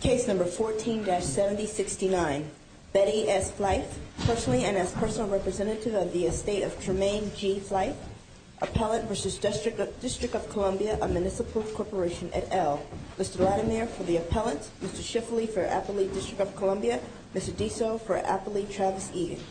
Case number 14-7069. Betty S. Flythe, personally and as personal representative of the estate of Tremaine G. Flythe, Appellant v. District of Columbia of Municipal Corporation, et al. Mr. Latimer for the Appellant, Mr. Schiffley for Appley District of Columbia, Mr. Diso for Appley, Travis Eaton. Thank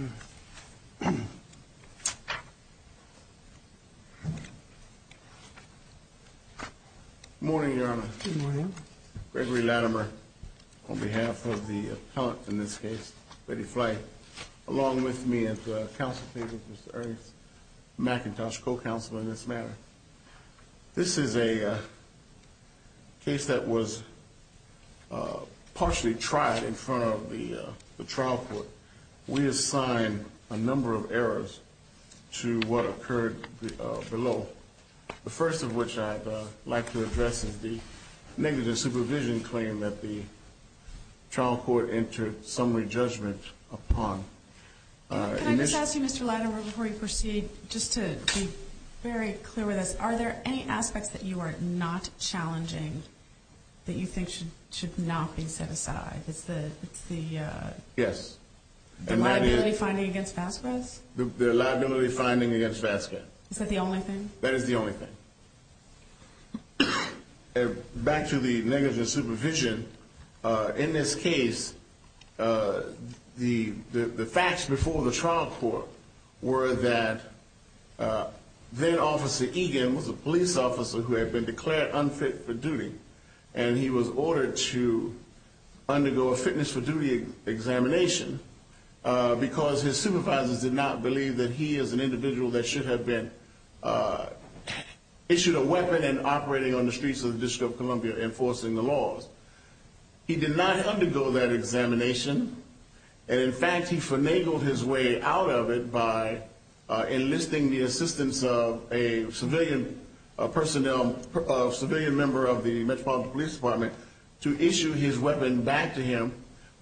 you. Good morning, Your Honor. Good morning. Gregory Latimer on behalf of the Appellant in this case, Betty Flythe, along with me at the counsel table, Mr. Ernst McIntosh, co-counsel in this matter. This is a case that was partially tried in front of the trial court. We assign a number of errors to what occurred below. The first of which I'd like to address is the negative supervision claim that the trial court entered summary judgment upon. Can I just ask you, Mr. Latimer, before you proceed, just to be very clear with us, are there any aspects that you are not challenging that you think should not be set aside? It's the liability finding against Vasquez? The liability finding against Vasquez. Is that the only thing? That is the only thing. Back to the negative supervision. In this case, the facts before the trial court were that then-Officer Egan was a police officer who had been declared unfit for duty. And he was ordered to undergo a fitness for duty examination because his supervisors did not believe that he is an individual that should have been issued a weapon and operating on the streets of the District of Columbia enforcing the laws. He did not undergo that examination. And in fact, he finagled his way out of it by enlisting the assistance of a civilian member of the Metropolitan Police Department to issue his weapon back to him,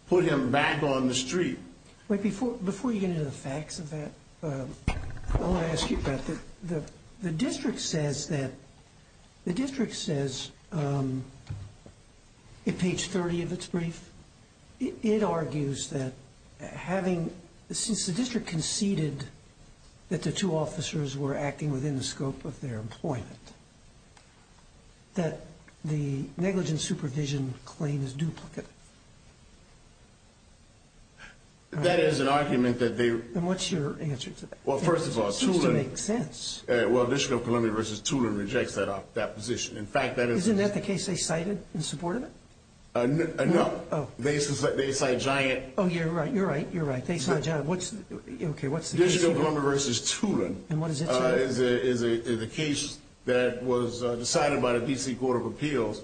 put him back on the street. Before you get into the facts of that, I want to ask you about the District says that the District says, in page 30 of its brief, it argues that having, since the District conceded that the two officers were acting within the scope of their employment, that the negligent supervision claim is duplicate. That is an argument that they- And what's your answer to that? Well, first of all, Tulin- It seems to make sense. Well, District of Columbia v. Tulin rejects that position. In fact, that is- Isn't that the case they cited in support of it? No. Oh. They cite Giant- Oh, you're right. You're right. You're right. They cite Giant. What's the- District of Columbia v. Tulin- And what does it say? It's a case that was decided by the D.C. Court of Appeals,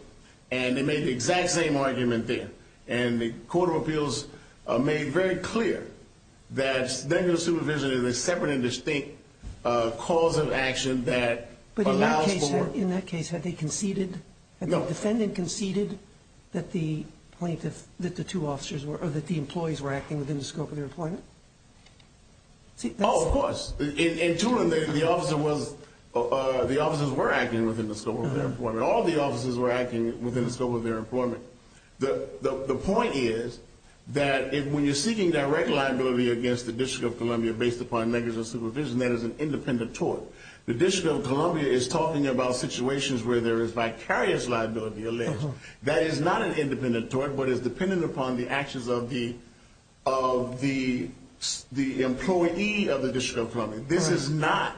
and they made the exact same argument there. And the Court of Appeals made very clear that negligent supervision is a separate and distinct cause of action that allows for- But in that case, had they conceded- No. Had the defendant conceded that the plaintiff- that the two officers were- or that the employees were acting within the scope of their employment? See, that's- In Tulin, the officer was- the officers were acting within the scope of their employment. All the officers were acting within the scope of their employment. The point is that when you're seeking direct liability against the District of Columbia based upon negligent supervision, that is an independent tort. The District of Columbia is talking about situations where there is vicarious liability alleged. That is not an independent tort, but is dependent upon the actions of the employee of the District of Columbia. This is not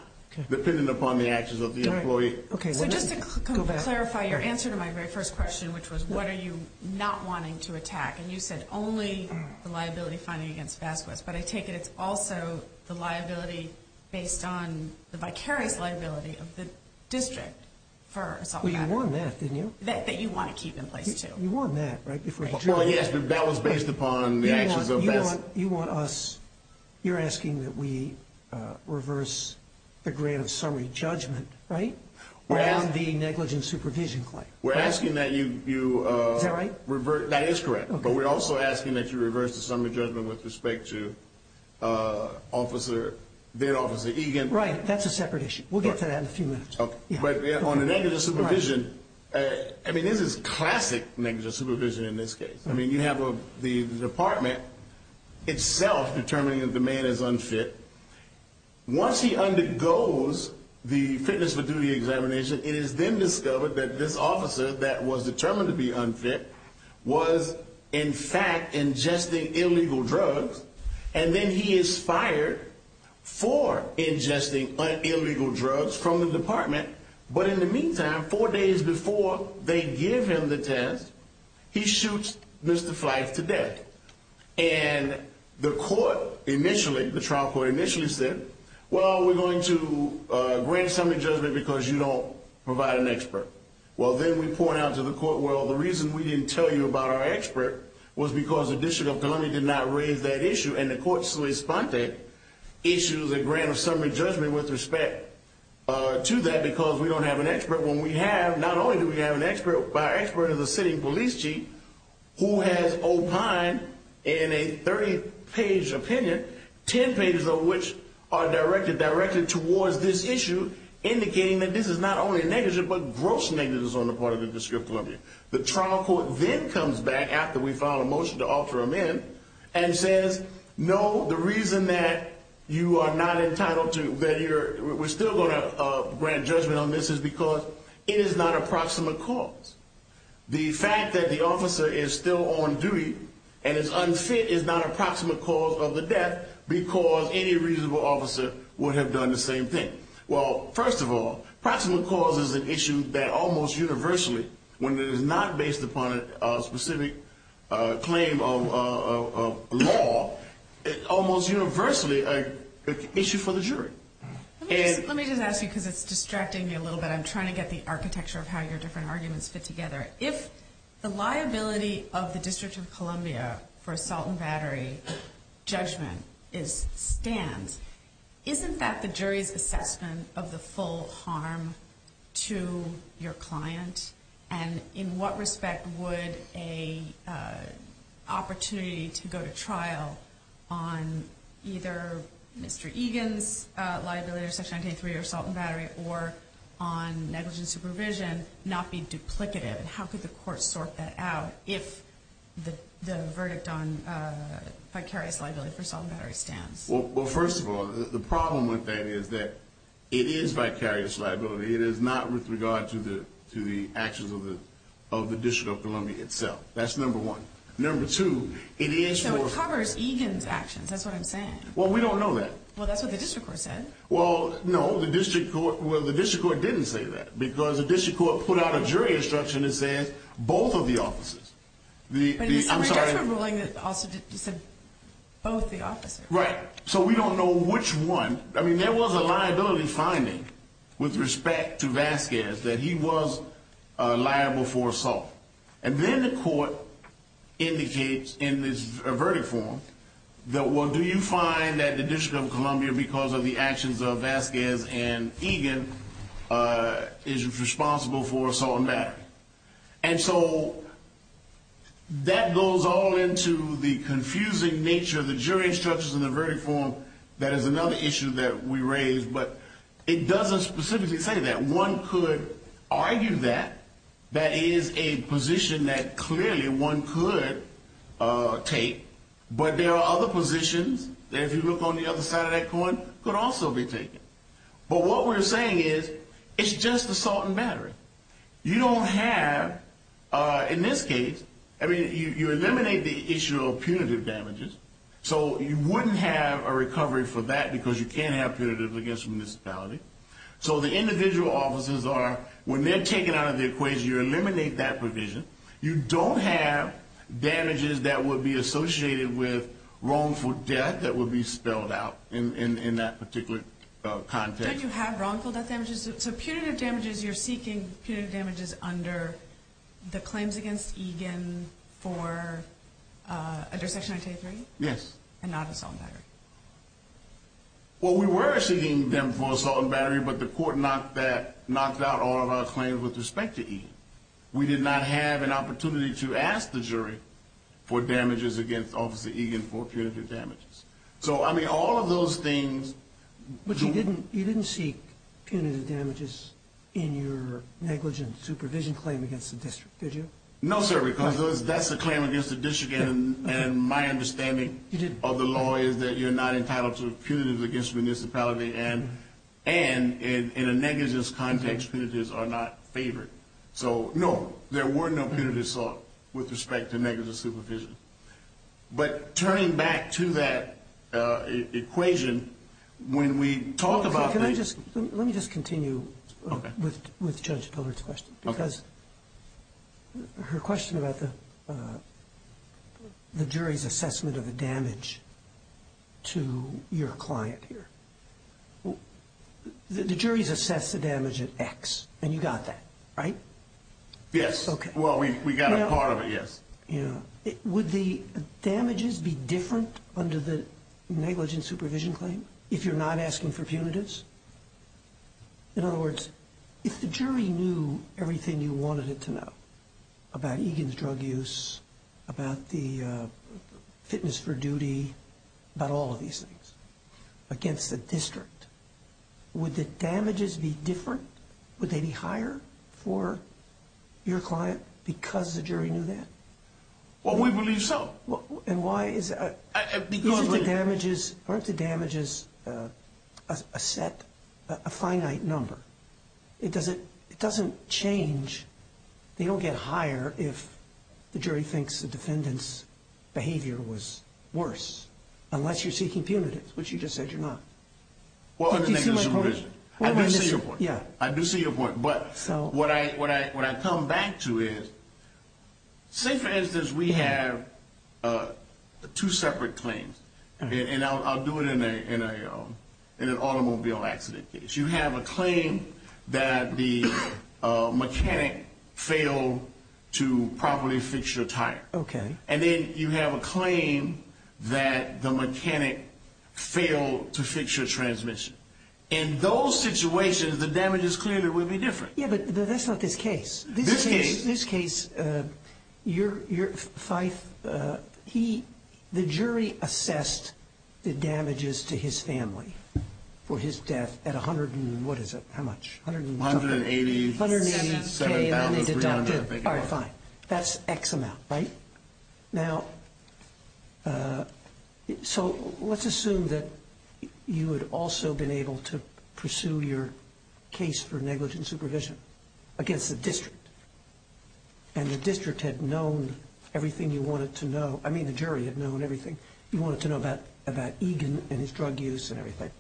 dependent upon the actions of the employee. All right. Okay. So just to clarify your answer to my very first question, which was, what are you not wanting to attack? And you said only the liability finding against Vasquez, but I take it it's also the liability based on the vicarious liability of the district for assault- Well, you want that, didn't you? That you want to keep in place, too. You want that, right? Well, yes, but that was based upon the actions of Vasquez. You want us- you're asking that we reverse the grant of summary judgment, right? Around the negligent supervision claim. We're asking that you- Is that right? That is correct. But we're also asking that you reverse the summary judgment with respect to Officer- then Officer Egan. Right. That's a separate issue. We'll get to that in a few minutes. But on the negligent supervision, I mean, this is classic negligent supervision in this case. I mean, you have the department itself determining that the man is unfit. Once he undergoes the fitness for duty examination, it is then discovered that this officer that was determined to be unfit was, in fact, ingesting illegal drugs. And then he is fired for ingesting illegal drugs from the department. But in the meantime, four days before they give him the test, he shoots Mr. Fleiss to death. And the court initially- the trial court initially said, well, we're going to grant summary judgment because you don't provide an expert. Well, then we point out to the court, well, the reason we didn't tell you about our expert was because the District of Columbia did not raise that issue. And the court so responded, issues a grant of summary judgment with respect to that because we don't have an expert. When we have, not only do we have an expert, but our expert is a city police chief who has opined in a 30-page opinion, 10 pages of which are directed directly towards this issue, indicating that this is not only negligent, but gross negligence on the part of the District of Columbia. The trial court then comes back after we file a motion to offer him in and says, no, the reason that you are not entitled to- we're still going to grant judgment on this is because it is not a proximate cause. The fact that the officer is still on duty and is unfit is not a proximate cause of the death because any reasonable officer would have done the same thing. Well, first of all, proximate cause is an issue that almost universally, when it is not based upon a specific claim of law, almost universally an issue for the jury. Let me just ask you because it's distracting me a little bit. I'm trying to get the architecture of how your different arguments fit together. If the liability of the District of Columbia for assault and battery judgment stands, isn't that the jury's assessment of the full harm to your client? And in what respect would an opportunity to go to trial on either Mr. Egan's liability or Section 983 or assault and battery or on negligent supervision not be duplicative? How could the court sort that out if the verdict on vicarious liability for assault and battery stands? Well, first of all, the problem with that is that it is vicarious liability. It is not with regard to the actions of the District of Columbia itself. That's number one. Number two, it is for – So it covers Egan's actions. That's what I'm saying. Well, we don't know that. Well, that's what the district court said. Well, no, the district court – well, the district court didn't say that because the district court put out a jury instruction that says both of the officers. But in the summary judgment ruling, it also said both the officers. Right. So we don't know which one. I mean, there was a liability finding with respect to Vasquez that he was liable for assault. And then the court indicates in this verdict form that, well, do you find that the District of Columbia, because of the actions of Vasquez and Egan, is responsible for assault and battery? And so that goes all into the confusing nature of the jury instructions in the verdict form. That is another issue that we raised. But it doesn't specifically say that. One could argue that. That is a position that clearly one could take. But there are other positions that, if you look on the other side of that coin, could also be taken. But what we're saying is it's just assault and battery. You don't have – in this case, I mean, you eliminate the issue of punitive damages, so you wouldn't have a recovery for that because you can't have punitive against municipality. So the individual officers are – when they're taken out of the equation, you eliminate that provision. You don't have damages that would be associated with wrongful death that would be spelled out in that particular context. Don't you have wrongful death damages? So punitive damages, you're seeking punitive damages under the claims against Egan for – under Section 923? Yes. And not assault and battery? Well, we were seeking them for assault and battery, but the court knocked out all of our claims with respect to Egan. We did not have an opportunity to ask the jury for damages against Officer Egan for punitive damages. So, I mean, all of those things – But you didn't seek punitive damages in your negligence supervision claim against the district, did you? No, sir, because that's a claim against the district, and my understanding of the law is that you're not entitled to punitive against municipality, and in a negligence context, punitives are not favored. So, no, there were no punitive assault with respect to negligence supervision. But turning back to that equation, when we talk about – Can I just – let me just continue with Judge Pillard's question. Okay. Because her question about the jury's assessment of the damage to your client here, the jury's assessed the damage at X, and you got that, right? Yes. Okay. Well, we got a part of it, yes. Yeah. Would the damages be different under the negligence supervision claim if you're not asking for punitives? In other words, if the jury knew everything you wanted it to know about Egan's drug use, about the fitness for duty, about all of these things against the district, would the damages be different? Would they be higher for your client because the jury knew that? Well, we believe so. And why is – Because – Aren't the damages a set, a finite number? It doesn't change – they don't get higher if the jury thinks the defendant's behavior was worse, unless you're seeking punitives, which you just said you're not. Do you see my point? I do see your point. Yeah. I do see your point. But what I come back to is, say, for instance, we have two separate claims, and I'll do it in an automobile accident case. You have a claim that the mechanic failed to properly fix your tire. Okay. And then you have a claim that the mechanic failed to fix your transmission. In those situations, the damages clearly would be different. Yeah, but that's not this case. This case? This case, your – Fyfe, he – the jury assessed the damages to his family for his death at 100 and – what is it? How much? 180,000. 180,000. And then they deducted. All right, fine. That's X amount, right? Now, so let's assume that you had also been able to pursue your case for negligent supervision against the district, and the district had known everything you wanted to know – I mean, the jury had known everything you wanted to know about Egan and his drug use and everything.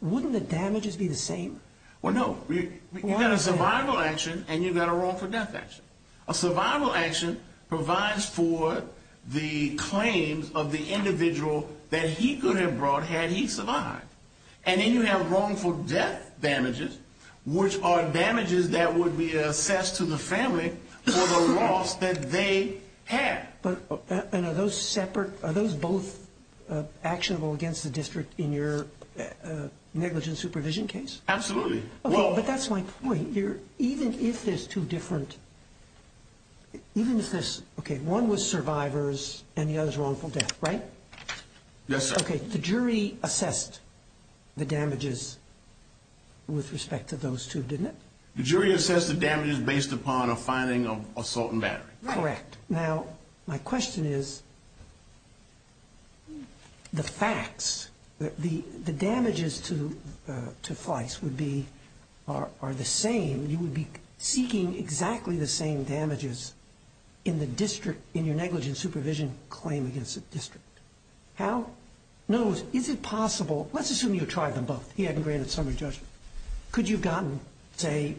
Wouldn't the damages be the same? Well, no. You've got a survival action, and you've got a wrongful death action. A survival action provides for the claims of the individual that he could have brought had he survived. And then you have wrongful death damages, which are damages that would be assessed to the family for the loss that they had. But – and are those separate – are those both actionable against the district in your negligent supervision case? Absolutely. Okay, but that's my point. Even if there's two different – even if there's – okay, one was survivors, and the other's wrongful death, right? Yes, sir. Okay, the jury assessed the damages with respect to those two, didn't it? The jury assessed the damages based upon a finding of assault and battery. Correct. Now, my question is, the facts – the damages to Fleiss would be – are the same. You would be seeking exactly the same damages in the district – in your negligent supervision claim against the district. How – no, is it possible – let's assume you tried them both. He hadn't granted summary judgment. Could you have gotten, say,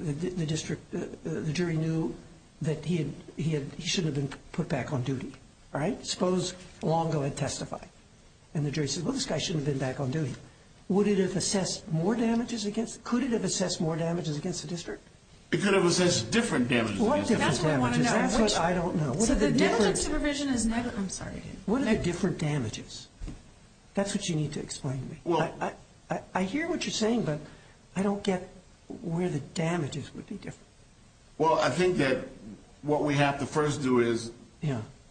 the district – the jury knew that he had – he shouldn't have been put back on duty, right? Suppose Longo had testified, and the jury said, well, this guy shouldn't have been back on duty. Would it have assessed more damages against – could it have assessed more damages against the district? It could have assessed different damages. What different damages? That's what I want to know. That's what I don't know. So the negligent supervision is – I'm sorry. What are the different damages? That's what you need to explain to me. Well – I hear what you're saying, but I don't get where the damages would be different. Well, I think that what we have to first do is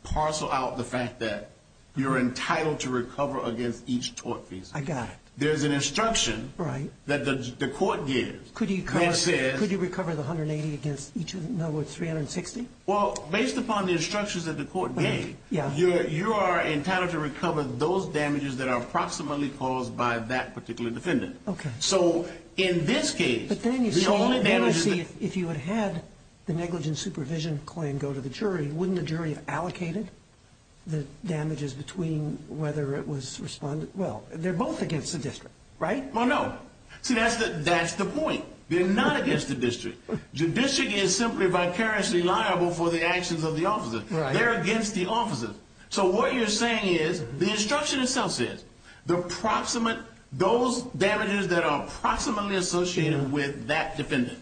parcel out the fact that you're entitled to recover against each tort case. I got it. There's an instruction – Right. – that the court gives that says – Could you recover the 180 against each – no, what, 360? Well, based upon the instructions that the court gave, you are entitled to recover those damages that are approximately caused by that particular defendant. Okay. So in this case, the only damages – But then you say, well, then I see if you had had the negligent supervision claim go to the jury, wouldn't the jury have allocated the damages between whether it was – well, they're both against the district, right? Well, no. They're not against the district. The district is simply vicariously liable for the actions of the officers. Right. They're against the officers. So what you're saying is the instruction itself says those damages that are approximately associated with that defendant.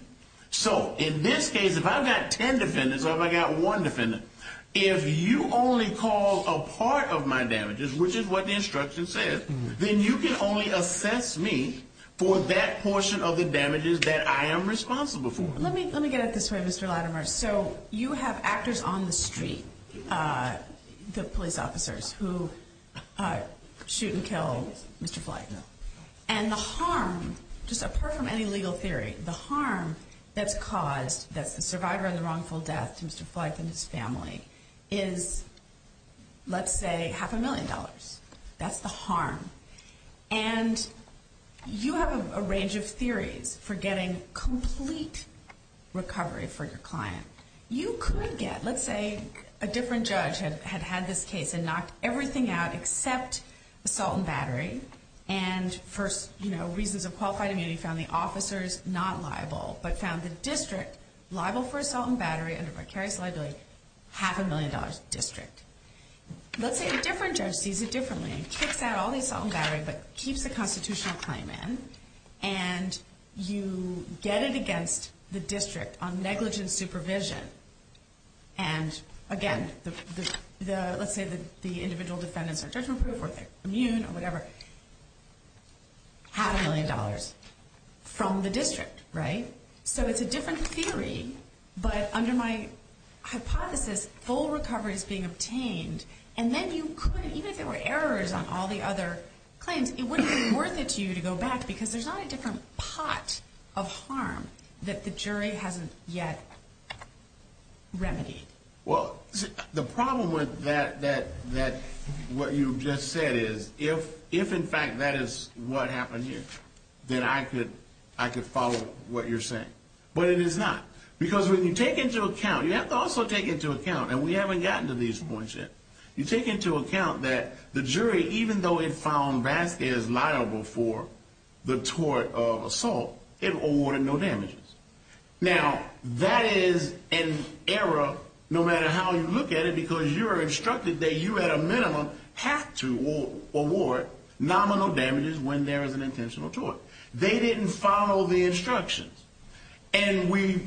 So in this case, if I've got 10 defendants or if I've got one defendant, if you only call a part of my damages, which is what the instruction says, then you can only assess me for that portion of the damages that I am responsible for. Let me get at it this way, Mr. Latimer. So you have actors on the street, the police officers, who shoot and kill Mr. Flight. No. And the harm, just apart from any legal theory, the harm that's caused, that's the survivor of the wrongful death to Mr. Flight and his family, is, let's say, half a million dollars. That's the harm. And you have a range of theories for getting complete recovery for your client. You could get, let's say, a different judge had had this case and knocked everything out except assault and battery. And for reasons of qualified immunity, found the officers not liable, but found the district liable for assault and battery under vicarious liability, half a million dollars district. Let's say a different judge sees it differently and kicks out all the assault and battery but keeps the constitutional claim in, and you get it against the district on negligent supervision. And again, let's say the individual defendants are judgment-proof or they're immune or whatever, half a million dollars from the district, right? So it's a different theory, but under my hypothesis, full recovery is being obtained. And then you couldn't, even if there were errors on all the other claims, it wouldn't be worth it to you to go back because there's not a different pot of harm that the jury hasn't yet remedied. Well, the problem with that, what you just said, is if in fact that is what happened here, then I could follow what you're saying. But it is not. Because when you take into account, you have to also take into account, and we haven't gotten to these points yet, you take into account that the jury, even though it found Vasquez liable for the tort of assault, it awarded no damages. Now, that is an error, no matter how you look at it, because you are instructed that you at a minimum have to award nominal damages when there is an intentional tort. They didn't follow the instructions. And we,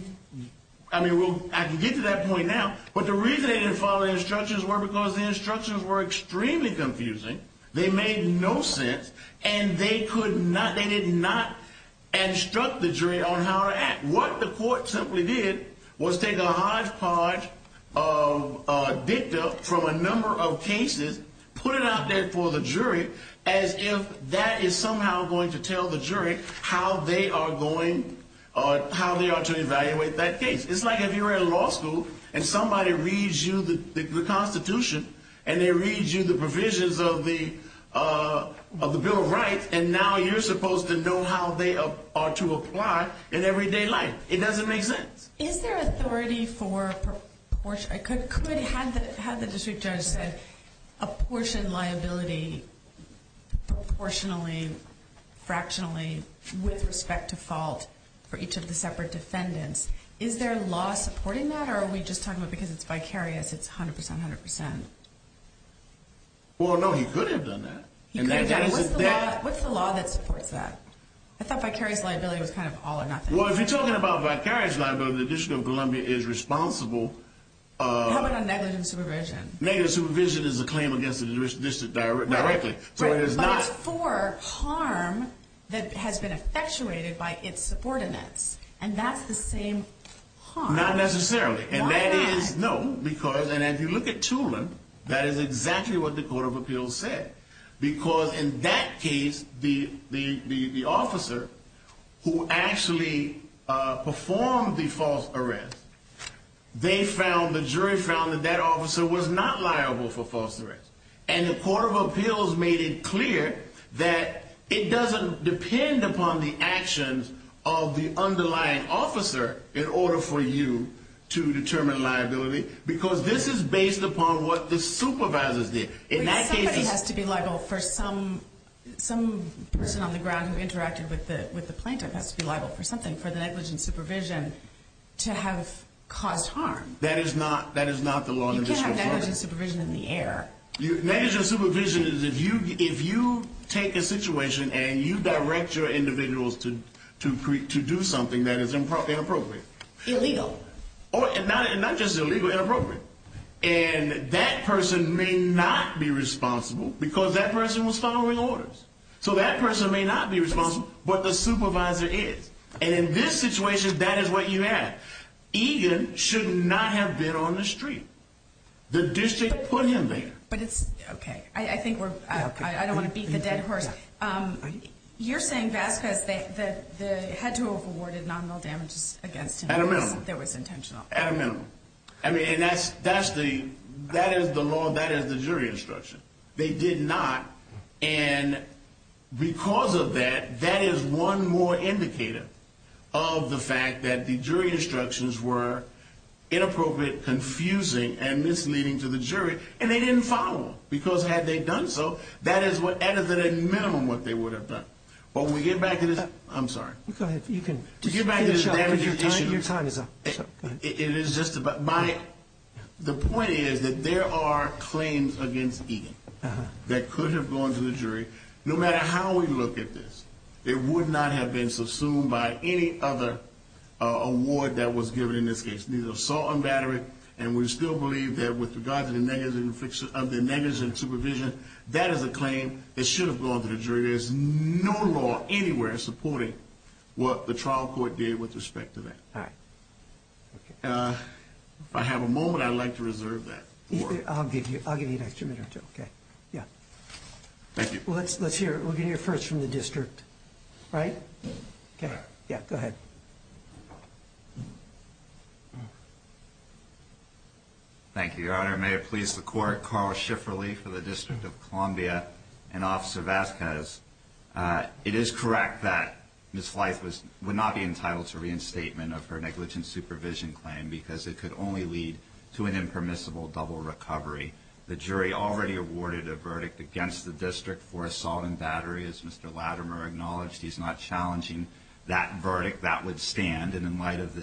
I mean, I can get to that point now, but the reason they didn't follow the instructions was because the instructions were extremely confusing, they made no sense, and they could not, they did not instruct the jury on how to act. What the court simply did was take a hodgepodge of dicta from a number of cases, put it out there for the jury as if that is somehow going to tell the jury how they are going, how they are to evaluate that case. It's like if you were in law school and somebody reads you the Constitution and they read you the provisions of the Bill of Rights, and now you're supposed to know how they are to apply in everyday life. It doesn't make sense. Is there authority for, I could have the district judge say, apportion liability proportionally, fractionally, with respect to fault for each of the separate defendants. Is there law supporting that, or are we just talking about because it's vicarious, it's 100%, 100%? Well, no, he could have done that. What's the law that supports that? I thought vicarious liability was kind of all or nothing. Well, if you're talking about vicarious liability, the District of Columbia is responsible. How about on negligent supervision? Negligent supervision is a claim against the district directly. But it's for harm that has been effectuated by its subordinates, and that's the same harm. Not necessarily. Why not? No, because, and if you look at Tulin, that is exactly what the Court of Appeals said. Because in that case, the officer who actually performed the false arrest, they found, the jury found that that officer was not liable for false arrest. And the Court of Appeals made it clear that it doesn't depend upon the actions of the underlying officer in order for you to determine liability, because this is based upon what the supervisors did. Somebody has to be liable for some person on the ground who interacted with the plaintiff has to be liable for something, for the negligent supervision to have caused harm. That is not the law in the District of Columbia. You can't have negligent supervision in the air. Negligent supervision is if you take a situation and you direct your individuals to do something that is inappropriate. Illegal. Not just illegal, inappropriate. And that person may not be responsible because that person was following orders. So that person may not be responsible, but the supervisor is. And in this situation, that is what you have. Egan should not have been on the street. The district put him there. But it's, okay. I think we're, I don't want to beat the dead horse. You're saying Vasquez, they had to have awarded nominal damages against him. At a minimum. That was intentional. At a minimum. I mean, and that's the, that is the law, that is the jury instruction. They did not, and because of that, that is one more indicator of the fact that the jury instructions were inappropriate, confusing, and misleading to the jury. And they didn't follow them. Because had they done so, that is what, at a minimum, what they would have done. When we get back to this, I'm sorry. Go ahead. You can. We get back to this damaging issue. Your time is up. It is just about, my, the point is that there are claims against Egan that could have gone to the jury. No matter how we look at this, it would not have been subsumed by any other award that was given in this case. It's neither assault nor battery. And we still believe that with regard to the negligence of supervision, that is a claim that should have gone to the jury. There's no law anywhere supporting what the trial court did with respect to that. All right. Okay. If I have a moment, I'd like to reserve that. I'll give you an extra minute or two. Okay. Yeah. Thank you. Well, let's hear it. We'll get it first from the district. Right? Okay. Yeah. Go ahead. Thank you. Thank you, Your Honor. May it please the court. Carl Schifferle for the District of Columbia and Officer Vasquez. It is correct that Ms. Leith would not be entitled to reinstatement of her negligence supervision claim because it could only lead to an impermissible double recovery. The jury already awarded a verdict against the district for assault and battery. As Mr. Latimer acknowledged, he's not challenging that verdict. That would stand. And in light of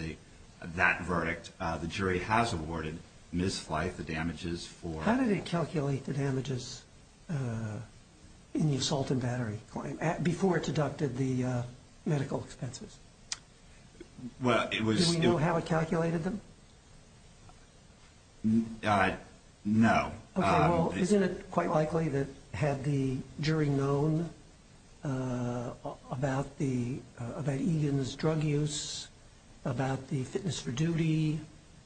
that verdict, the jury has awarded Ms. Leith the damages for her. How did it calculate the damages in the assault and battery claim before it deducted the medical expenses? Well, it was – Do we know how it calculated them? No. Okay. Well, isn't it quite likely that had the jury known about Eden's drug use, about the fitness for duty,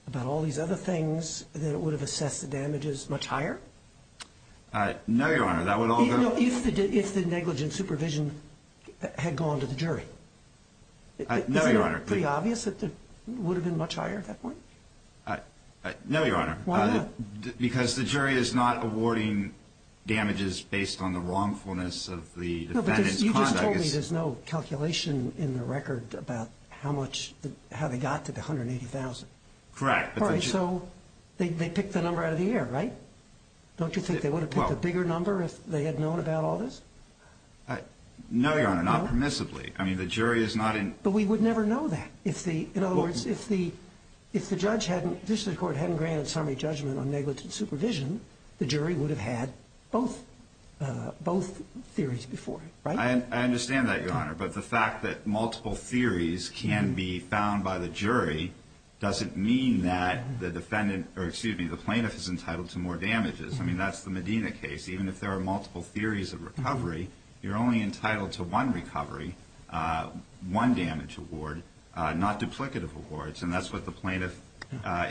about all these other things, that it would have assessed the damages much higher? No, Your Honor. That would all go – No, if the negligence supervision had gone to the jury. No, Your Honor. Isn't it pretty obvious that it would have been much higher at that point? No, Your Honor. Why not? Because the jury is not awarding damages based on the wrongfulness of the defendant's conduct. No, because you just told me there's no calculation in the record about how much – how they got to the $180,000. Correct. All right, so they picked the number out of the air, right? Don't you think they would have picked a bigger number if they had known about all this? No, Your Honor. No? Not permissibly. I mean, the jury is not in – But we would never know that. In other words, if the judge hadn't – if the court hadn't granted summary judgment on negligence supervision, the jury would have had both theories before, right? I understand that, Your Honor, but the fact that multiple theories can be found by the jury doesn't mean that the defendant – or, excuse me, the plaintiff is entitled to more damages. I mean, that's the Medina case. Even if there are multiple theories of recovery, you're only entitled to one recovery, one damage award, not duplicative awards, and that's what the plaintiff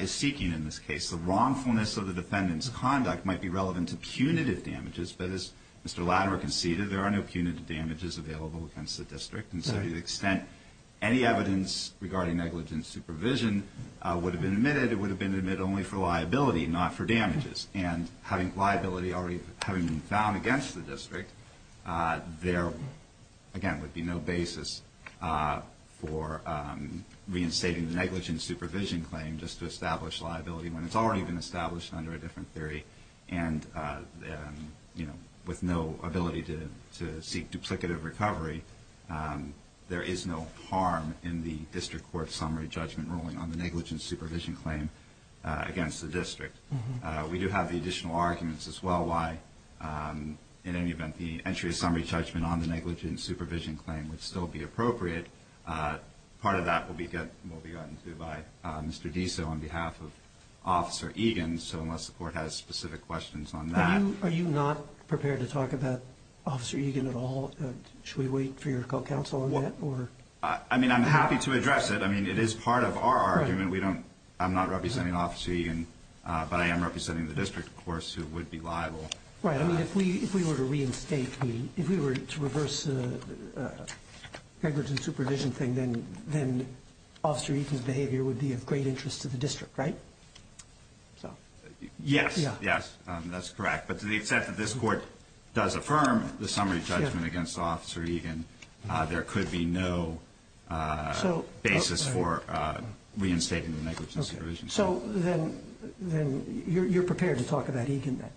is seeking in this case. The wrongfulness of the defendant's conduct might be relevant to punitive damages, but as Mr. Latimer conceded, there are no punitive damages available against the district. And so to the extent any evidence regarding negligence supervision would have been admitted, it would have been admitted only for liability, not for damages. And having liability already – having been found against the district, there, again, would be no basis for reinstating the negligence supervision claim just to establish liability when it's already been established under a different theory. And, you know, with no ability to seek duplicative recovery, there is no harm in the district court summary judgment ruling on the negligence supervision claim against the district. We do have the additional arguments as well why, in any event, the entry of summary judgment on the negligence supervision claim would still be appropriate. Part of that will be gotten to by Mr. Diso on behalf of Officer Egan, so unless the court has specific questions on that. Are you not prepared to talk about Officer Egan at all? Should we wait for your call counsel on that? I mean, I'm happy to address it. I mean, it is part of our argument. We don't – I'm not representing Officer Egan, but I am representing the district, of course, who would be liable. Right. I mean, if we were to reinstate the – if we were to reverse the negligence supervision thing, then Officer Egan's behavior would be of great interest to the district, right? Yes. Yes, that's correct. But to the extent that this court does affirm the summary judgment against Officer Egan, there could be no basis for reinstating the negligence supervision. Okay. So then you're prepared to talk about Egan then?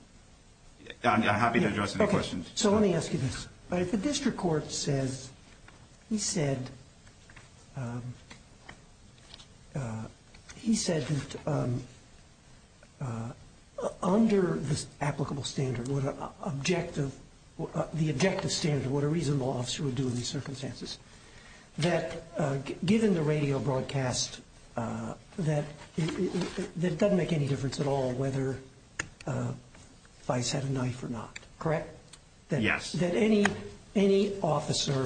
I'm happy to address any questions. So let me ask you this. If the district court says – he said that under the applicable standard, the objective standard, what a reasonable officer would do in these circumstances, that given the radio broadcast, that it doesn't make any difference at all whether Vice had a knife or not, correct? Yes. That any officer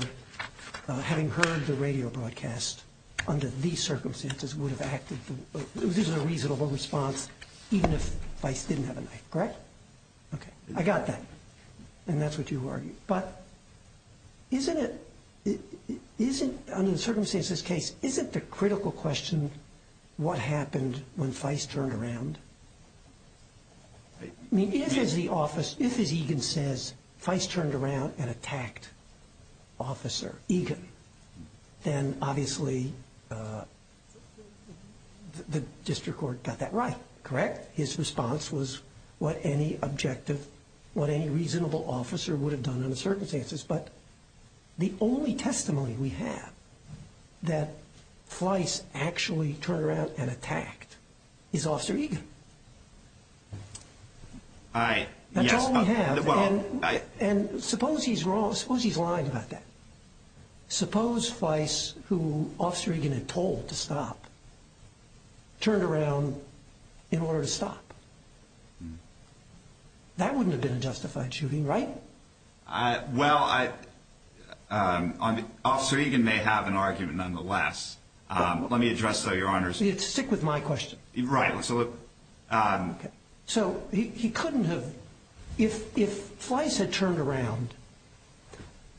having heard the radio broadcast under these circumstances would have acted – this is a reasonable response even if Vice didn't have a knife, correct? Okay. I got that. And that's what you argue. But isn't it – isn't – under the circumstances of this case, isn't the critical question what happened when Vice turned around? I mean, if as the office – if as Egan says, Vice turned around and attacked Officer Egan, then obviously the district court got that right, correct? His response was what any objective – what any reasonable officer would have done under the circumstances. But the only testimony we have that Vice actually turned around and attacked is Officer Egan. All right. That's all we have. And suppose he's wrong. Suppose he's lying about that. Suppose Vice, who Officer Egan had told to stop, turned around in order to stop. That wouldn't have been a justified shooting, right? Well, I – Officer Egan may have an argument nonetheless. Let me address, though, Your Honors. Stick with my question. Right. So he couldn't have – if Vice had turned around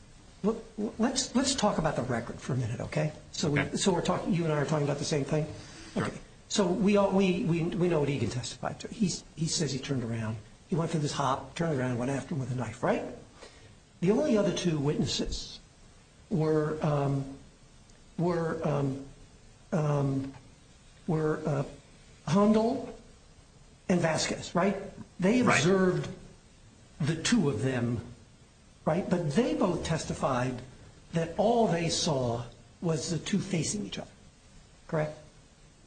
– let's talk about the record for a minute, okay? Okay. So we're talking – you and I are talking about the same thing? Okay. So we know what Egan testified to. He says he turned around. He went for this hop, turned around, went after him with a knife, right? The only other two witnesses were Handel and Vasquez, right? They observed the two of them, right? But they both testified that all they saw was the two facing each other, correct?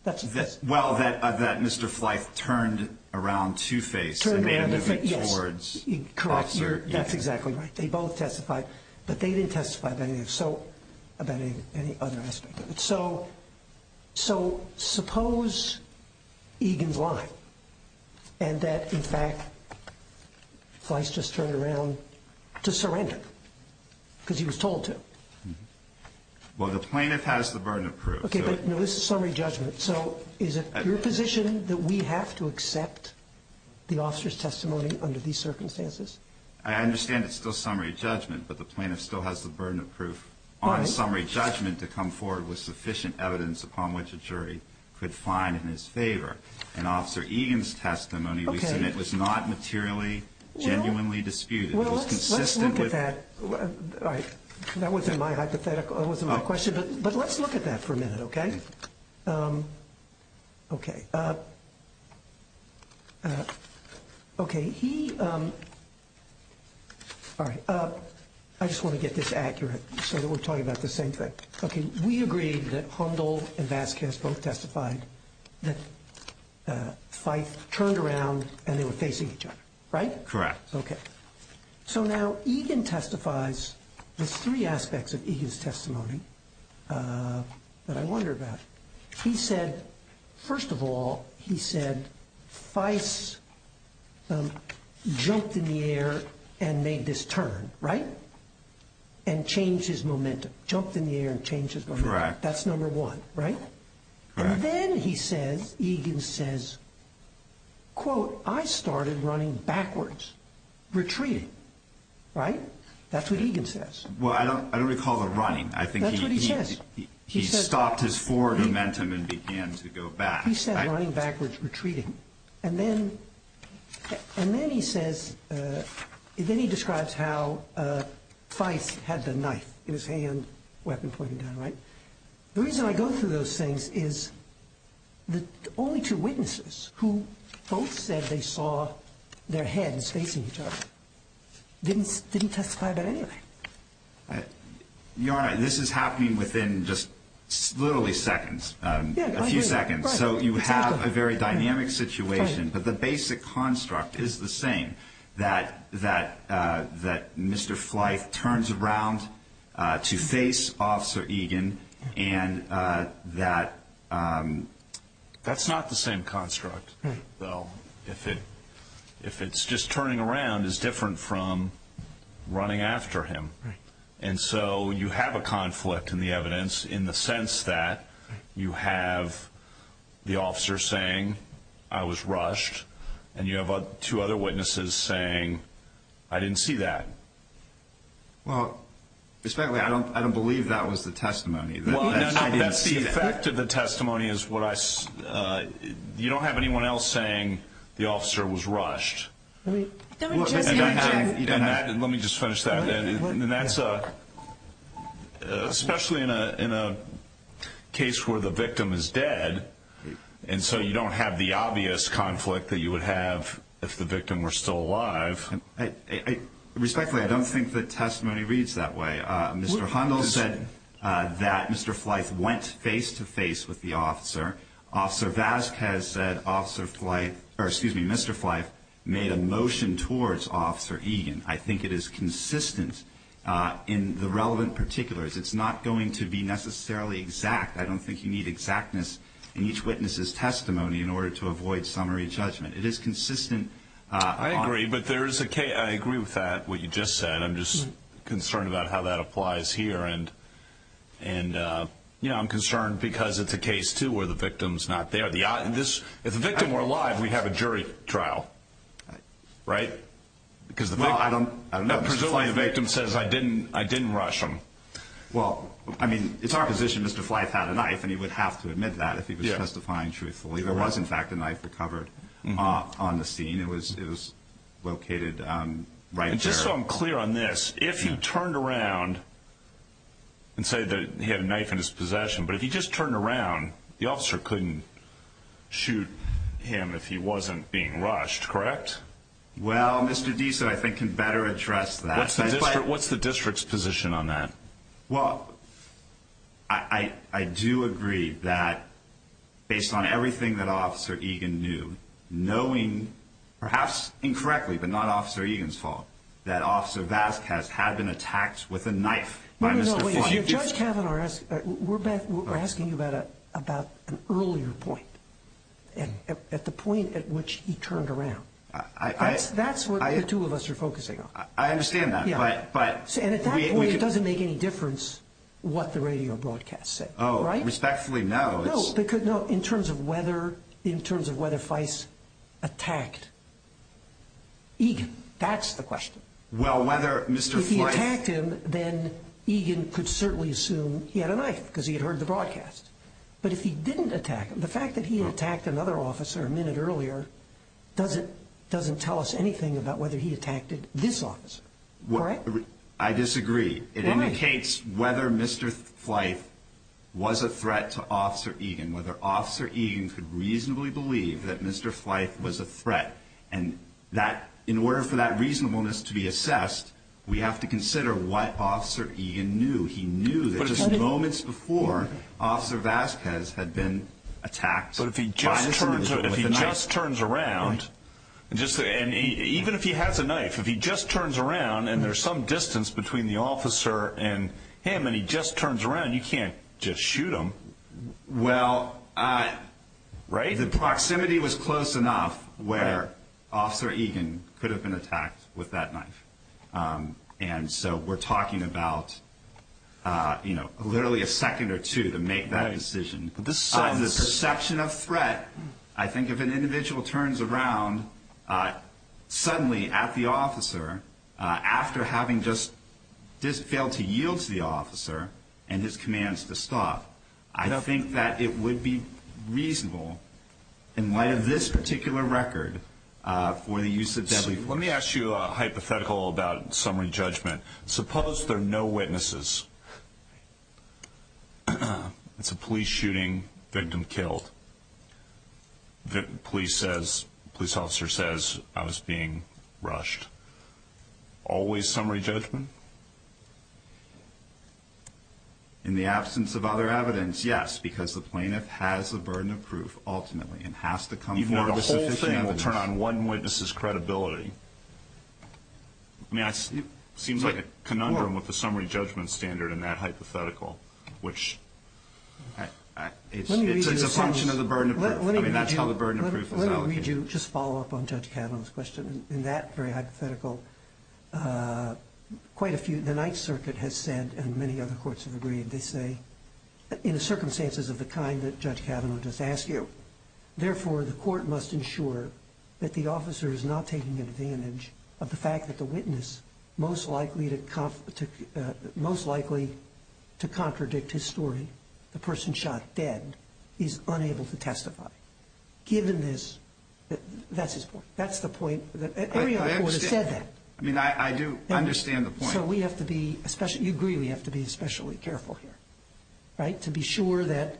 Well, that Mr. Fleiss turned around to face. Yes. Correct. That's exactly right. They both testified. But they didn't testify about any other aspect of it. So suppose Egan's lying and that, in fact, Fleiss just turned around to surrender because he was told to. Well, the plaintiff has the burden of proof. Okay, but this is summary judgment. So is it your position that we have to accept the officer's testimony under these circumstances? I understand it's still summary judgment, but the plaintiff still has the burden of proof. Why? On a summary judgment to come forward with sufficient evidence upon which a jury could find in his favor. And Officer Egan's testimony we submit was not materially, genuinely disputed. It was consistent with – Well, let's look at that. All right. That wasn't my hypothetical. That wasn't my question. But let's look at that for a minute, okay? Okay. Okay. He – all right. I just want to get this accurate so that we're talking about the same thing. Okay. We agreed that Hundle and Vasquez both testified that Fleiss turned around and they were facing each other. Right? Correct. Okay. So now Egan testifies – there's three aspects of Egan's testimony that I wonder about. He said – first of all, he said Fleiss jumped in the air and made this turn, right? And changed his momentum. Jumped in the air and changed his momentum. Correct. That's number one, right? Correct. And then he says – Egan says, quote, I started running backwards, retreating. Right? That's what Egan says. Well, I don't recall the running. I think he – That's what he says. He stopped his forward momentum and began to go back. He said running backwards, retreating. And then he says – then he describes how Fleiss had the knife in his hand, weapon pointed down. Right? The reason I go through those things is the only two witnesses who both said they saw their heads facing each other didn't testify about anything. Your Honor, this is happening within just literally seconds. Yeah, I agree. A few seconds. Right. So you have a very dynamic situation. Right. But the basic construct is the same, that Mr. Fleiss turns around to face Officer Egan and that – That's not the same construct, though, if it's just turning around is different from running after him. Right. And you have two other witnesses saying, I didn't see that. Well, respectfully, I don't believe that was the testimony. That's the effect of the testimony is what I – you don't have anyone else saying the officer was rushed. Let me just finish that. And that's a – especially in a case where the victim is dead, and so you don't have the obvious conflict that you would have if the victim were still alive. Respectfully, I don't think the testimony reads that way. Mr. Hundle said that Mr. Fleiss went face-to-face with the officer. Officer Vasquez said Officer Fleiss – or, excuse me, Mr. Fleiss made a motion towards Officer Egan. I think it is consistent in the relevant particulars. It's not going to be necessarily exact. I don't think you need exactness in each witness's testimony in order to avoid summary judgment. It is consistent. I agree, but there is a – I agree with that, what you just said. I'm just concerned about how that applies here. And, you know, I'm concerned because it's a case, too, where the victim's not there. If the victim were alive, we'd have a jury trial, right? I don't know. Presumably the victim says, I didn't rush him. Well, I mean, it's our position Mr. Fleiss had a knife, and he would have to admit that if he was testifying truthfully. There was, in fact, a knife recovered on the scene. It was located right there. And just so I'm clear on this, if he turned around and said that he had a knife in his possession, but if he just turned around, the officer couldn't shoot him if he wasn't being rushed, correct? Well, Mr. Deese, I think, can better address that. What's the district's position on that? Well, I do agree that based on everything that Officer Egan knew, knowing perhaps incorrectly, but not Officer Egan's fault, that Officer Vasquez had been attacked with a knife by Mr. Fleiss. No, no, no. Judge Kavanaugh, we're asking you about an earlier point, at the point at which he turned around. That's what the two of us are focusing on. I understand that. And at that point, it doesn't make any difference what the radio broadcast said, right? Oh, respectfully, no. No, in terms of whether Fleiss attacked Egan, that's the question. Well, whether Mr. Fleiss – If he attacked him, then Egan could certainly assume he had a knife because he had heard the broadcast. But if he didn't attack him, the fact that he attacked another officer a minute earlier doesn't tell us anything about whether he attacked this officer. I disagree. It indicates whether Mr. Fleiss was a threat to Officer Egan, whether Officer Egan could reasonably believe that Mr. Fleiss was a threat. And in order for that reasonableness to be assessed, we have to consider what Officer Egan knew. He knew that just moments before, Officer Vasquez had been attacked by this individual with a knife. But if he just turns around, even if he has a knife, if he just turns around and there's some distance between the officer and him and he just turns around, you can't just shoot him. Well, the proximity was close enough where Officer Egan could have been attacked with that knife. And so we're talking about literally a second or two to make that decision. The perception of threat, I think if an individual turns around suddenly at the officer after having just failed to yield to the officer and his commands to stop, I think that it would be reasonable in light of this particular record for the use of deadly force. Let me ask you a hypothetical about summary judgment. Suppose there are no witnesses. It's a police shooting, victim killed. The police officer says, I was being rushed. Always summary judgment? In the absence of other evidence, yes, because the plaintiff has a burden of proof ultimately and has to come forward with sufficient evidence. But if you turn on one witness's credibility, I mean, it seems like a conundrum with the summary judgment standard in that hypothetical, which it's a function of the burden of proof. I mean, that's how the burden of proof is allocated. Let me read you, just follow up on Judge Kavanaugh's question. In that very hypothetical, quite a few, the Ninth Circuit has said, and many other courts have agreed, they say, in the circumstances of the kind that Judge Kavanaugh just asked you, therefore, the court must ensure that the officer is not taking advantage of the fact that the witness most likely to contradict his story, the person shot dead, is unable to testify. Given this, that's his point. That's the point. I mean, I do understand the point. So we have to be, you agree, we have to be especially careful here. Right? To be sure that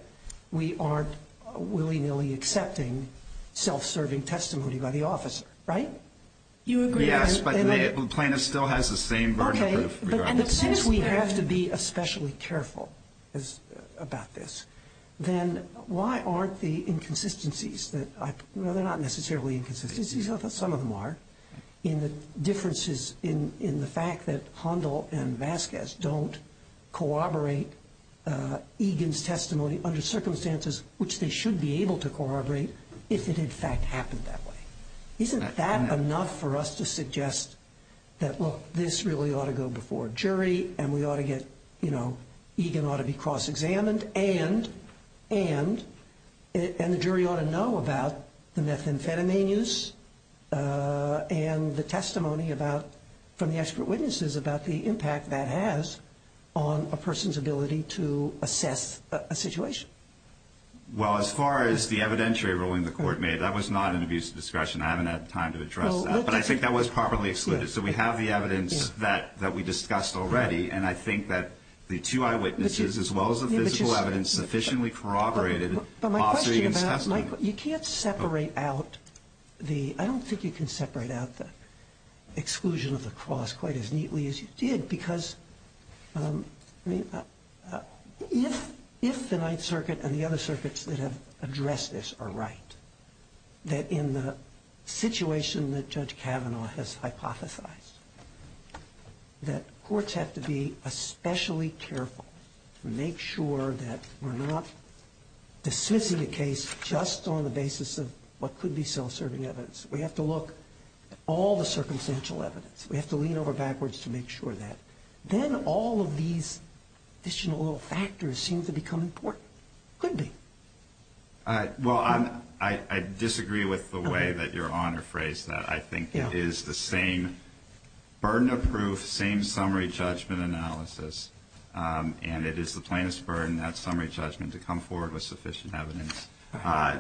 we aren't willy-nilly accepting self-serving testimony by the officer. Right? You agree? Yes, but the plaintiff still has the same burden of proof. But since we have to be especially careful about this, then why aren't the inconsistencies that, well, they're not necessarily inconsistencies, although some of them are, in the differences in the fact that Hondal and Vasquez don't corroborate Egan's testimony under circumstances which they should be able to corroborate if it, in fact, happened that way. Isn't that enough for us to suggest that, well, this really ought to go before a jury and we ought to get, you know, Egan ought to be cross-examined and the jury ought to know about the methamphetamines and the testimony about, from the expert witnesses, about the impact that has on a person's ability to assess a situation? Well, as far as the evidentiary ruling the court made, that was not an abuse of discretion. I haven't had time to address that. But I think that was properly excluded. So we have the evidence that we discussed already, and I think that the two eyewitnesses, as well as the physical evidence, sufficiently corroborated officer Egan's testimony. You can't separate out the – I don't think you can separate out the exclusion of the cross quite as neatly as you did because, I mean, if the Ninth Circuit and the other circuits that have addressed this are right, that in the situation that Judge Kavanaugh has hypothesized, that courts have to be especially careful to make sure that we're not dismissing a case just on the basis of what could be self-serving evidence. We have to look at all the circumstantial evidence. We have to lean over backwards to make sure that. Then all of these additional little factors seem to become important. Could be. Well, I disagree with the way that Your Honor phrased that. I think it is the same burden of proof, same summary judgment analysis, and it is the plaintiff's burden, that summary judgment, to come forward with sufficient evidence.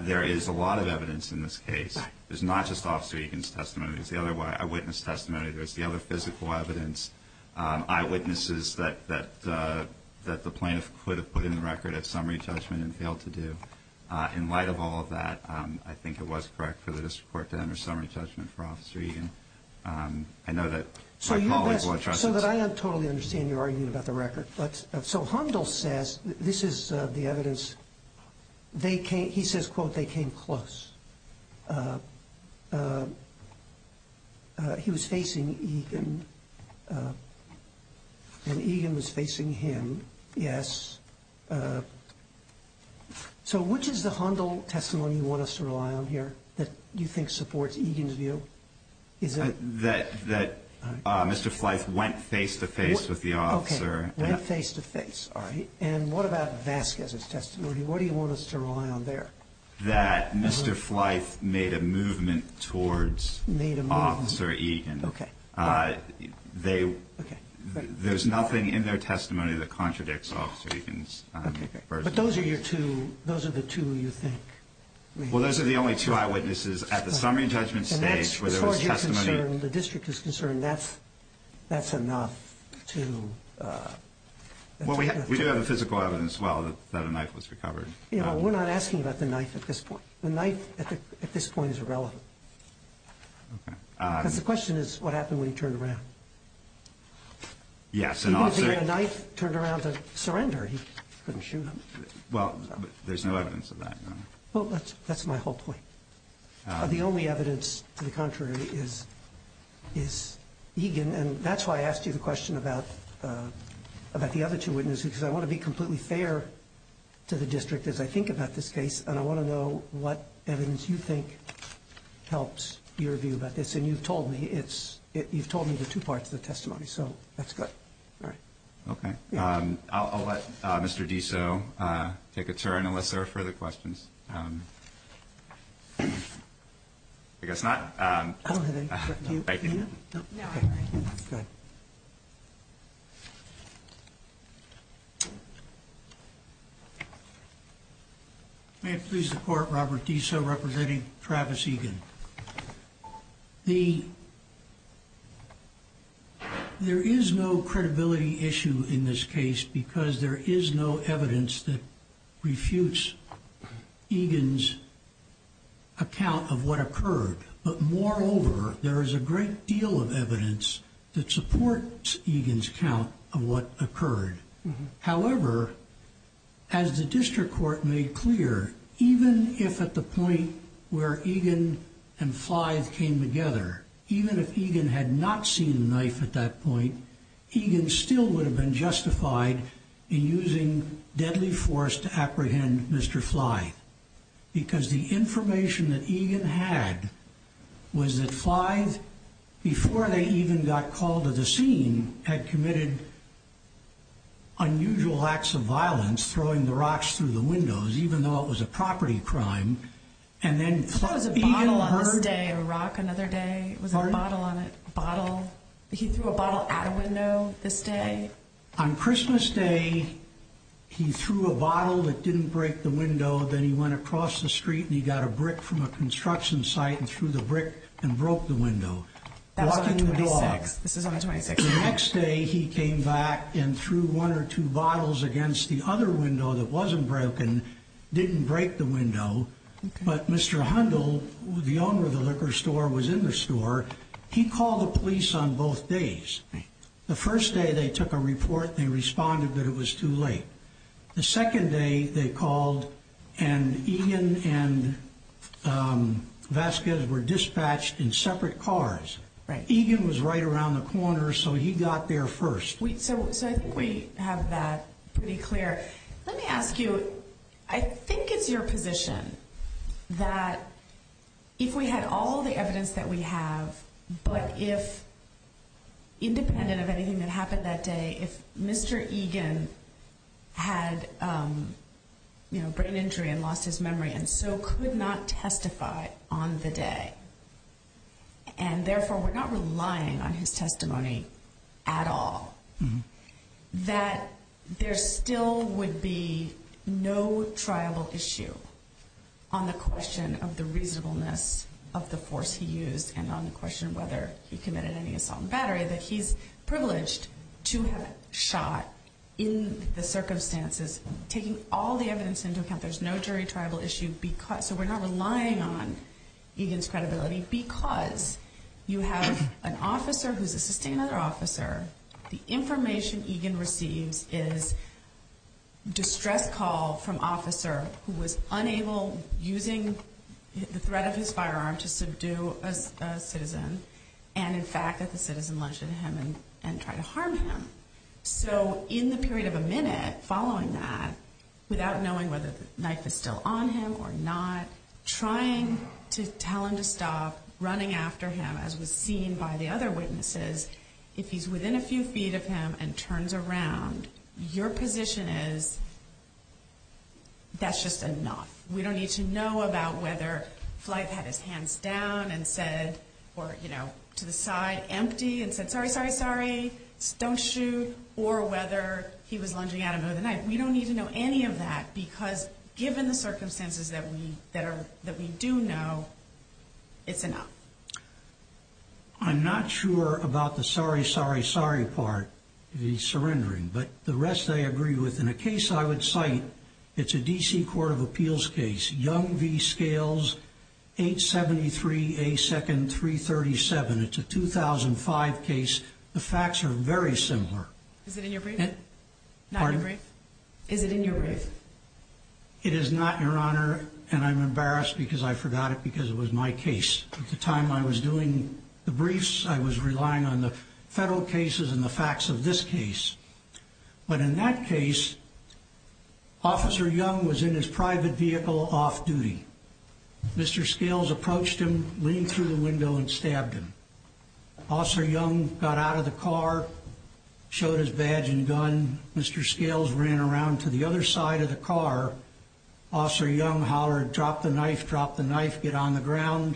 There is a lot of evidence in this case. There's not just officer Egan's testimony. There's the other eyewitness testimony. There's the other physical evidence. Eyewitnesses that the plaintiff could have put in the record as summary judgment and failed to do. In light of all of that, I think it was correct for the district court to enter summary judgment for Officer Egan. I know that my colleagues will address it. So that I totally understand your argument about the record. So Hundle says this is the evidence. He says, quote, they came close. He was facing Egan. And Egan was facing him. Yes. So which is the Hundle testimony you want us to rely on here that you think supports Egan's view? That Mr. Fleiss went face-to-face with the officer. Okay. Went face-to-face. All right. And what about Vasquez's testimony? What do you want us to rely on there? That Mr. Fleiss made a movement towards Officer Egan. Made a movement. Okay. There's nothing in their testimony that contradicts Officer Egan's. Okay. But those are your two, those are the two you think. Well, those are the only two eyewitnesses at the summary judgment stage where there was testimony. As far as you're concerned, the district is concerned, that's enough to... Well, we do have the physical evidence as well that a knife was recovered. You know, we're not asking about the knife at this point. The knife at this point is irrelevant. Okay. Because the question is what happened when he turned around. Yes, and also... Even if he had a knife, turned around to surrender, he couldn't shoot him. Well, there's no evidence of that. Well, that's my whole point. The only evidence to the contrary is Egan. And that's why I asked you the question about the other two witnesses because I want to be completely fair to the district as I think about this case, and I want to know what evidence you think helps your view about this. And you've told me it's, you've told me the two parts of the testimony, so that's good. All right. Okay. I'll let Mr. Diso take a turn unless there are further questions. I guess not. Thank you. Go ahead. May it please the Court, Robert Diso representing Travis Egan. There is no credibility issue in this case because there is no evidence that refutes Egan's account of what occurred. But moreover, there is a great deal of evidence that supports Egan's account of what occurred. However, as the district court made clear, even if at the point where Egan and Flythe came together, even if Egan had not seen the knife at that point, Egan still would have been justified in using deadly force to apprehend Mr. Flythe because the information that Egan had was that Flythe, before they even got called to the scene, had committed unusual acts of violence, throwing the rocks through the windows, even though it was a property crime. And then Flythe, Egan heard— That was a bottle on this day, a rock another day. Pardon? It was a bottle on a bottle. He threw a bottle at a window this day. On Christmas Day, he threw a bottle that didn't break the window. Then he went across the street and he got a brick from a construction site and threw the brick and broke the window. That was on the 26th. This is on the 26th. The next day, he came back and threw one or two bottles against the other window that wasn't broken, didn't break the window. But Mr. Hundle, the owner of the liquor store, was in the store. He called the police on both days. The first day, they took a report and they responded that it was too late. The second day, they called and Egan and Vasquez were dispatched in separate cars. Egan was right around the corner, so he got there first. So I think we have that pretty clear. Let me ask you, I think it's your position that if we had all the evidence that we have, but if, independent of anything that happened that day, if Mr. Egan had brain injury and lost his memory and so could not testify on the day, and therefore we're not relying on his testimony at all, that there still would be no trial issue on the question of the reasonableness of the force he used and on the question of whether he committed any assault and battery, that he's privileged to have shot in the circumstances, taking all the evidence into account, there's no jury trial issue, so we're not relying on Egan's credibility because you have an officer who's assisting another officer. The information Egan receives is distress call from officer who was unable, using the threat of his firearm to subdue a citizen, and in fact that the citizen lunged at him and tried to harm him. So in the period of a minute following that, without knowing whether the knife is still on him or not, trying to tell him to stop, running after him as was seen by the other witnesses, if he's within a few feet of him and turns around, your position is that's just enough. We don't need to know about whether Flife had his hands down and said, or to the side empty and said, sorry, sorry, sorry, don't shoot, or whether he was lunging at him with a knife. We don't need to know any of that because given the circumstances that we do know, it's enough. I'm not sure about the sorry, sorry, sorry part, the surrendering, but the rest I agree with. In a case I would cite, it's a D.C. Court of Appeals case, Young v. Scales, 873A2nd337. It's a 2005 case. The facts are very similar. Is it in your brief? Pardon? Is it in your brief? It is not, Your Honor, and I'm embarrassed because I forgot it because it was my case. At the time I was doing the briefs, I was relying on the federal cases and the facts of this case. But in that case, Officer Young was in his private vehicle off-duty. Mr. Scales approached him, leaned through the window, and stabbed him. Officer Young got out of the car, showed his badge and gun. Mr. Scales ran around to the other side of the car. Officer Young hollered, drop the knife, drop the knife, get on the ground.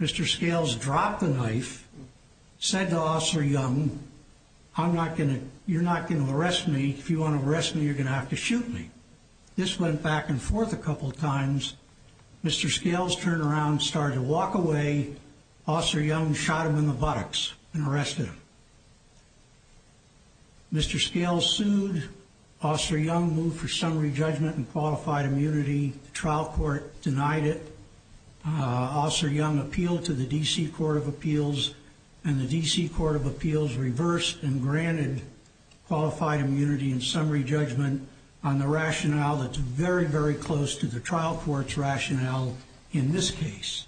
Mr. Scales dropped the knife, said to Officer Young, you're not going to arrest me. If you want to arrest me, you're going to have to shoot me. This went back and forth a couple of times. Mr. Scales turned around and started to walk away. Officer Young shot him in the buttocks and arrested him. Mr. Scales sued. Officer Young moved for summary judgment and qualified immunity. The trial court denied it. Officer Young appealed to the D.C. Court of Appeals, and the D.C. Court of Appeals reversed and granted qualified immunity and summary judgment on the rationale that's very, very close to the trial court's rationale in this case.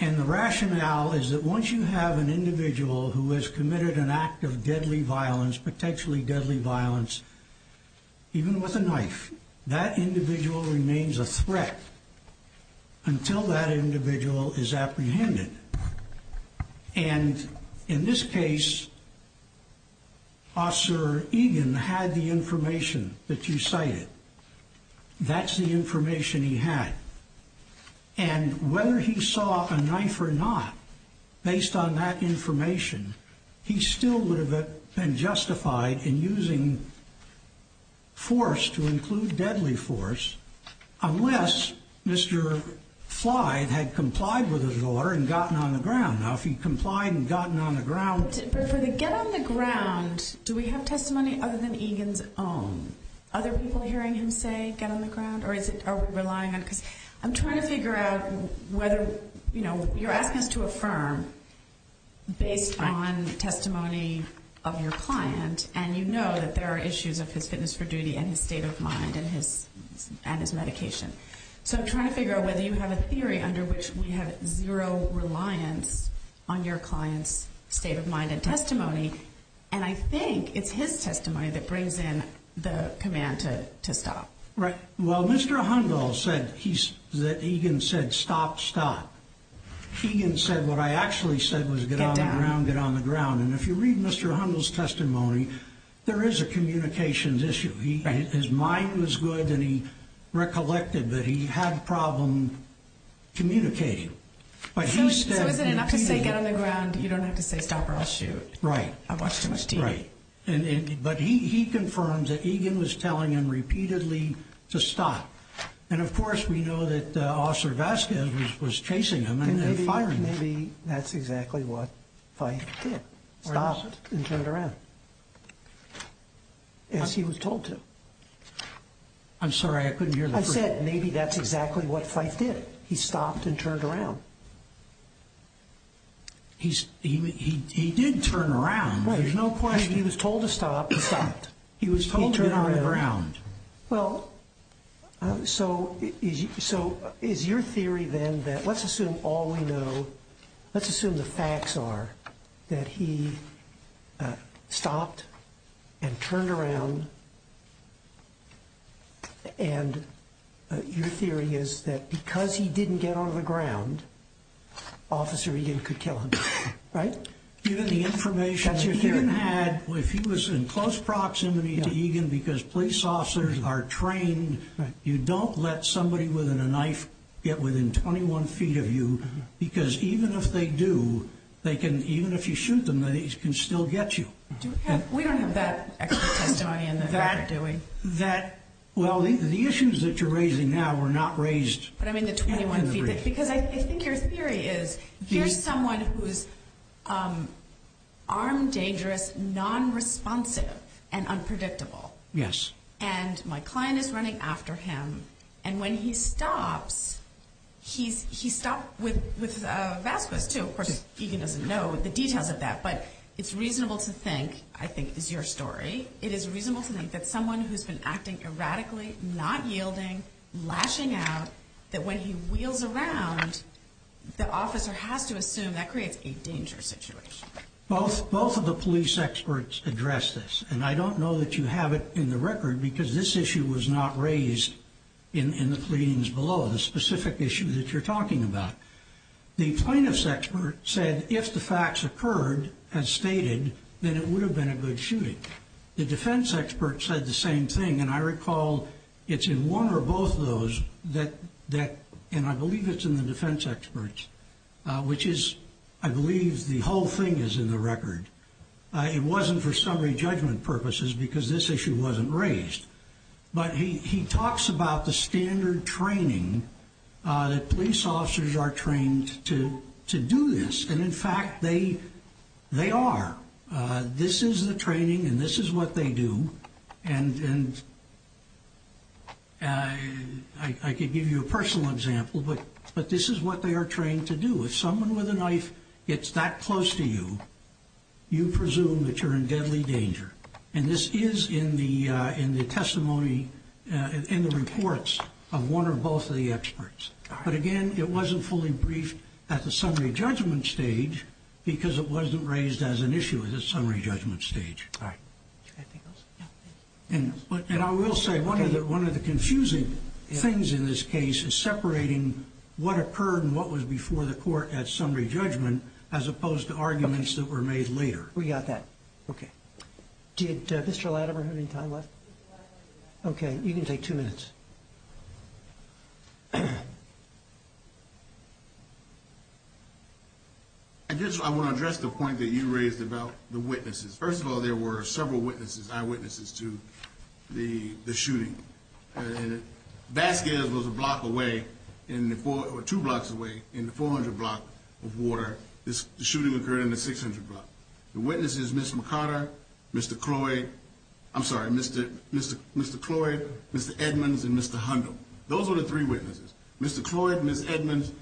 And the rationale is that once you have an individual who has committed an act of deadly violence, potentially deadly violence, even with a knife, that individual remains a threat until that individual is apprehended. And in this case, Officer Egan had the information that you cited. That's the information he had. And whether he saw a knife or not, based on that information, he still would have been justified in using force to include deadly force unless Mr. Flyde had complied with his order and gotten on the ground. Now, if he'd complied and gotten on the ground. But for the get on the ground, do we have testimony other than Egan's own? Other people hearing him say get on the ground? Or are we relying on it? I'm trying to figure out whether, you know, you're asking us to affirm based on testimony of your client, and you know that there are issues of his fitness for duty and his state of mind and his medication. So I'm trying to figure out whether you have a theory under which we have zero reliance on your client's state of mind and testimony. And I think it's his testimony that brings in the command to stop. Right. Well, Mr. Hundle said that Egan said stop, stop. Egan said what I actually said was get on the ground, get on the ground. And if you read Mr. Hundle's testimony, there is a communications issue. His mind was good and he recollected that he had a problem communicating. So is it enough to say get on the ground? You don't have to say stop or I'll shoot. Right. I've watched too much TV. Right. But he confirmed that Egan was telling him repeatedly to stop. And, of course, we know that Officer Vasquez was chasing him and firing him. Maybe that's exactly what Fyfe did, stopped and turned around as he was told to. I'm sorry, I couldn't hear the first part. I said maybe that's exactly what Fyfe did. He stopped and turned around. He did turn around. There's no question. He was told to stop and stopped. He was told to get on the ground. Well, so is your theory then that let's assume all we know, let's assume the facts are that he stopped and turned around. And your theory is that because he didn't get on the ground, Officer Egan could kill him, right? Given the information that Egan had, if he was in close proximity to Egan because police officers are trained, you don't let somebody with a knife get within 21 feet of you because even if they do, even if you shoot them, they can still get you. We don't have that extra testimony in there, do we? Well, the issues that you're raising now were not raised in the brief. Because I think your theory is here's someone who's armed, dangerous, nonresponsive, and unpredictable. Yes. And my client is running after him. And when he stops, he stopped with Vasquez, too. Of course, Egan doesn't know the details of that. But it's reasonable to think, I think is your story, it is reasonable to think that someone who's been acting erratically, not yielding, lashing out, that when he wheels around, the officer has to assume that creates a dangerous situation. Both of the police experts addressed this. And I don't know that you have it in the record because this issue was not raised in the pleadings below, the specific issue that you're talking about. The plaintiff's expert said if the facts occurred as stated, then it would have been a good shooting. The defense expert said the same thing. And I recall it's in one or both of those, and I believe it's in the defense experts, which is I believe the whole thing is in the record. It wasn't for summary judgment purposes because this issue wasn't raised. But he talks about the standard training that police officers are trained to do this. And, in fact, they are. This is the training and this is what they do. And I could give you a personal example, but this is what they are trained to do. If someone with a knife gets that close to you, you presume that you're in deadly danger. And this is in the testimony and the reports of one or both of the experts. But, again, it wasn't fully briefed at the summary judgment stage because it wasn't raised as an issue at the summary judgment stage. And I will say one of the confusing things in this case is separating what occurred and what was before the court at summary judgment as opposed to arguments that were made later. We got that. Okay. Did Mr. Latimer have any time left? Okay. You can take two minutes. I guess I want to address the point that you raised about the witnesses. First of all, there were several witnesses, eyewitnesses to the shooting. Vasquez was a block away, two blocks away, in the 400 block of water. The shooting occurred in the 600 block. The witnesses, Mr. McCarter, Mr. Cloyd, I'm sorry, Mr. Cloyd, Mr. Edmonds, and Mr. Hundle. Those were the three witnesses. Mr. Cloyd and Ms. Edmonds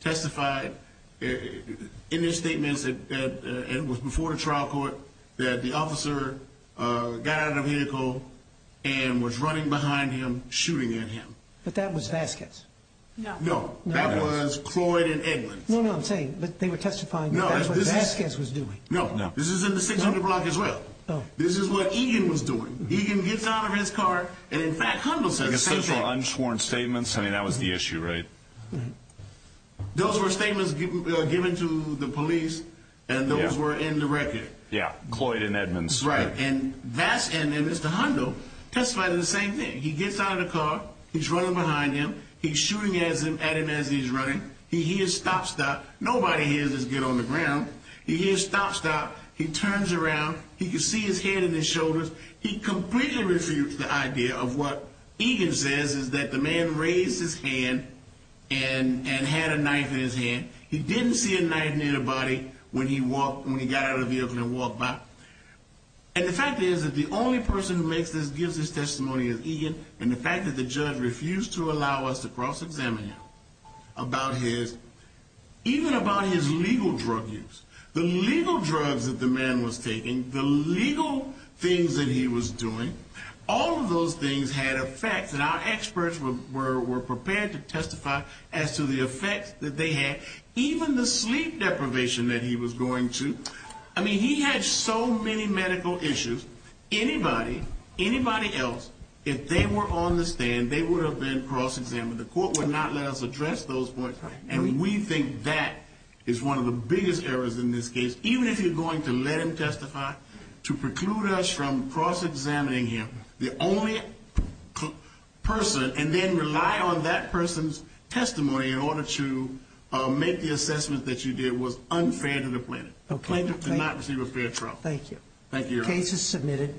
testified in their statements and it was before the trial court that the officer got out of the vehicle and was running behind him, shooting at him. But that was Vasquez. No. No, that was Cloyd and Edmonds. No, no, I'm saying, but they were testifying that that's what Vasquez was doing. No, this is in the 600 block as well. This is what Egan was doing. Egan gets out of his car and, in fact, Hundle says the same thing. Unsworn statements? I mean, that was the issue, right? Those were statements given to the police and those were in the record. Yeah, Cloyd and Edmonds. Right, and Vasquez and Mr. Hundle testified in the same thing. He gets out of the car. He's running behind him. He's shooting at him as he's running. He hears stop, stop. Nobody hears his get on the ground. He hears stop, stop. He turns around. He can see his head in his shoulders. He completely refused the idea of what Egan says is that the man raised his hand and had a knife in his hand. He didn't see a knife near the body when he got out of the vehicle and walked by. And the fact is that the only person who makes this, gives this testimony is Egan, and the fact that the judge refused to allow us to cross-examine him about his, even about his legal drug use, the legal drugs that the man was taking, the legal things that he was doing, all of those things had effects and our experts were prepared to testify as to the effects that they had. Even the sleep deprivation that he was going to, I mean, he had so many medical issues. Anybody, anybody else, if they were on the stand, they would have been cross-examined. The court would not let us address those points, and we think that is one of the biggest errors in this case. Even if you're going to let him testify, to preclude us from cross-examining him, the only person, and then rely on that person's testimony in order to make the assessment that you did was unfair to the plaintiff. The plaintiff did not receive a fair trial. Thank you. The case is submitted.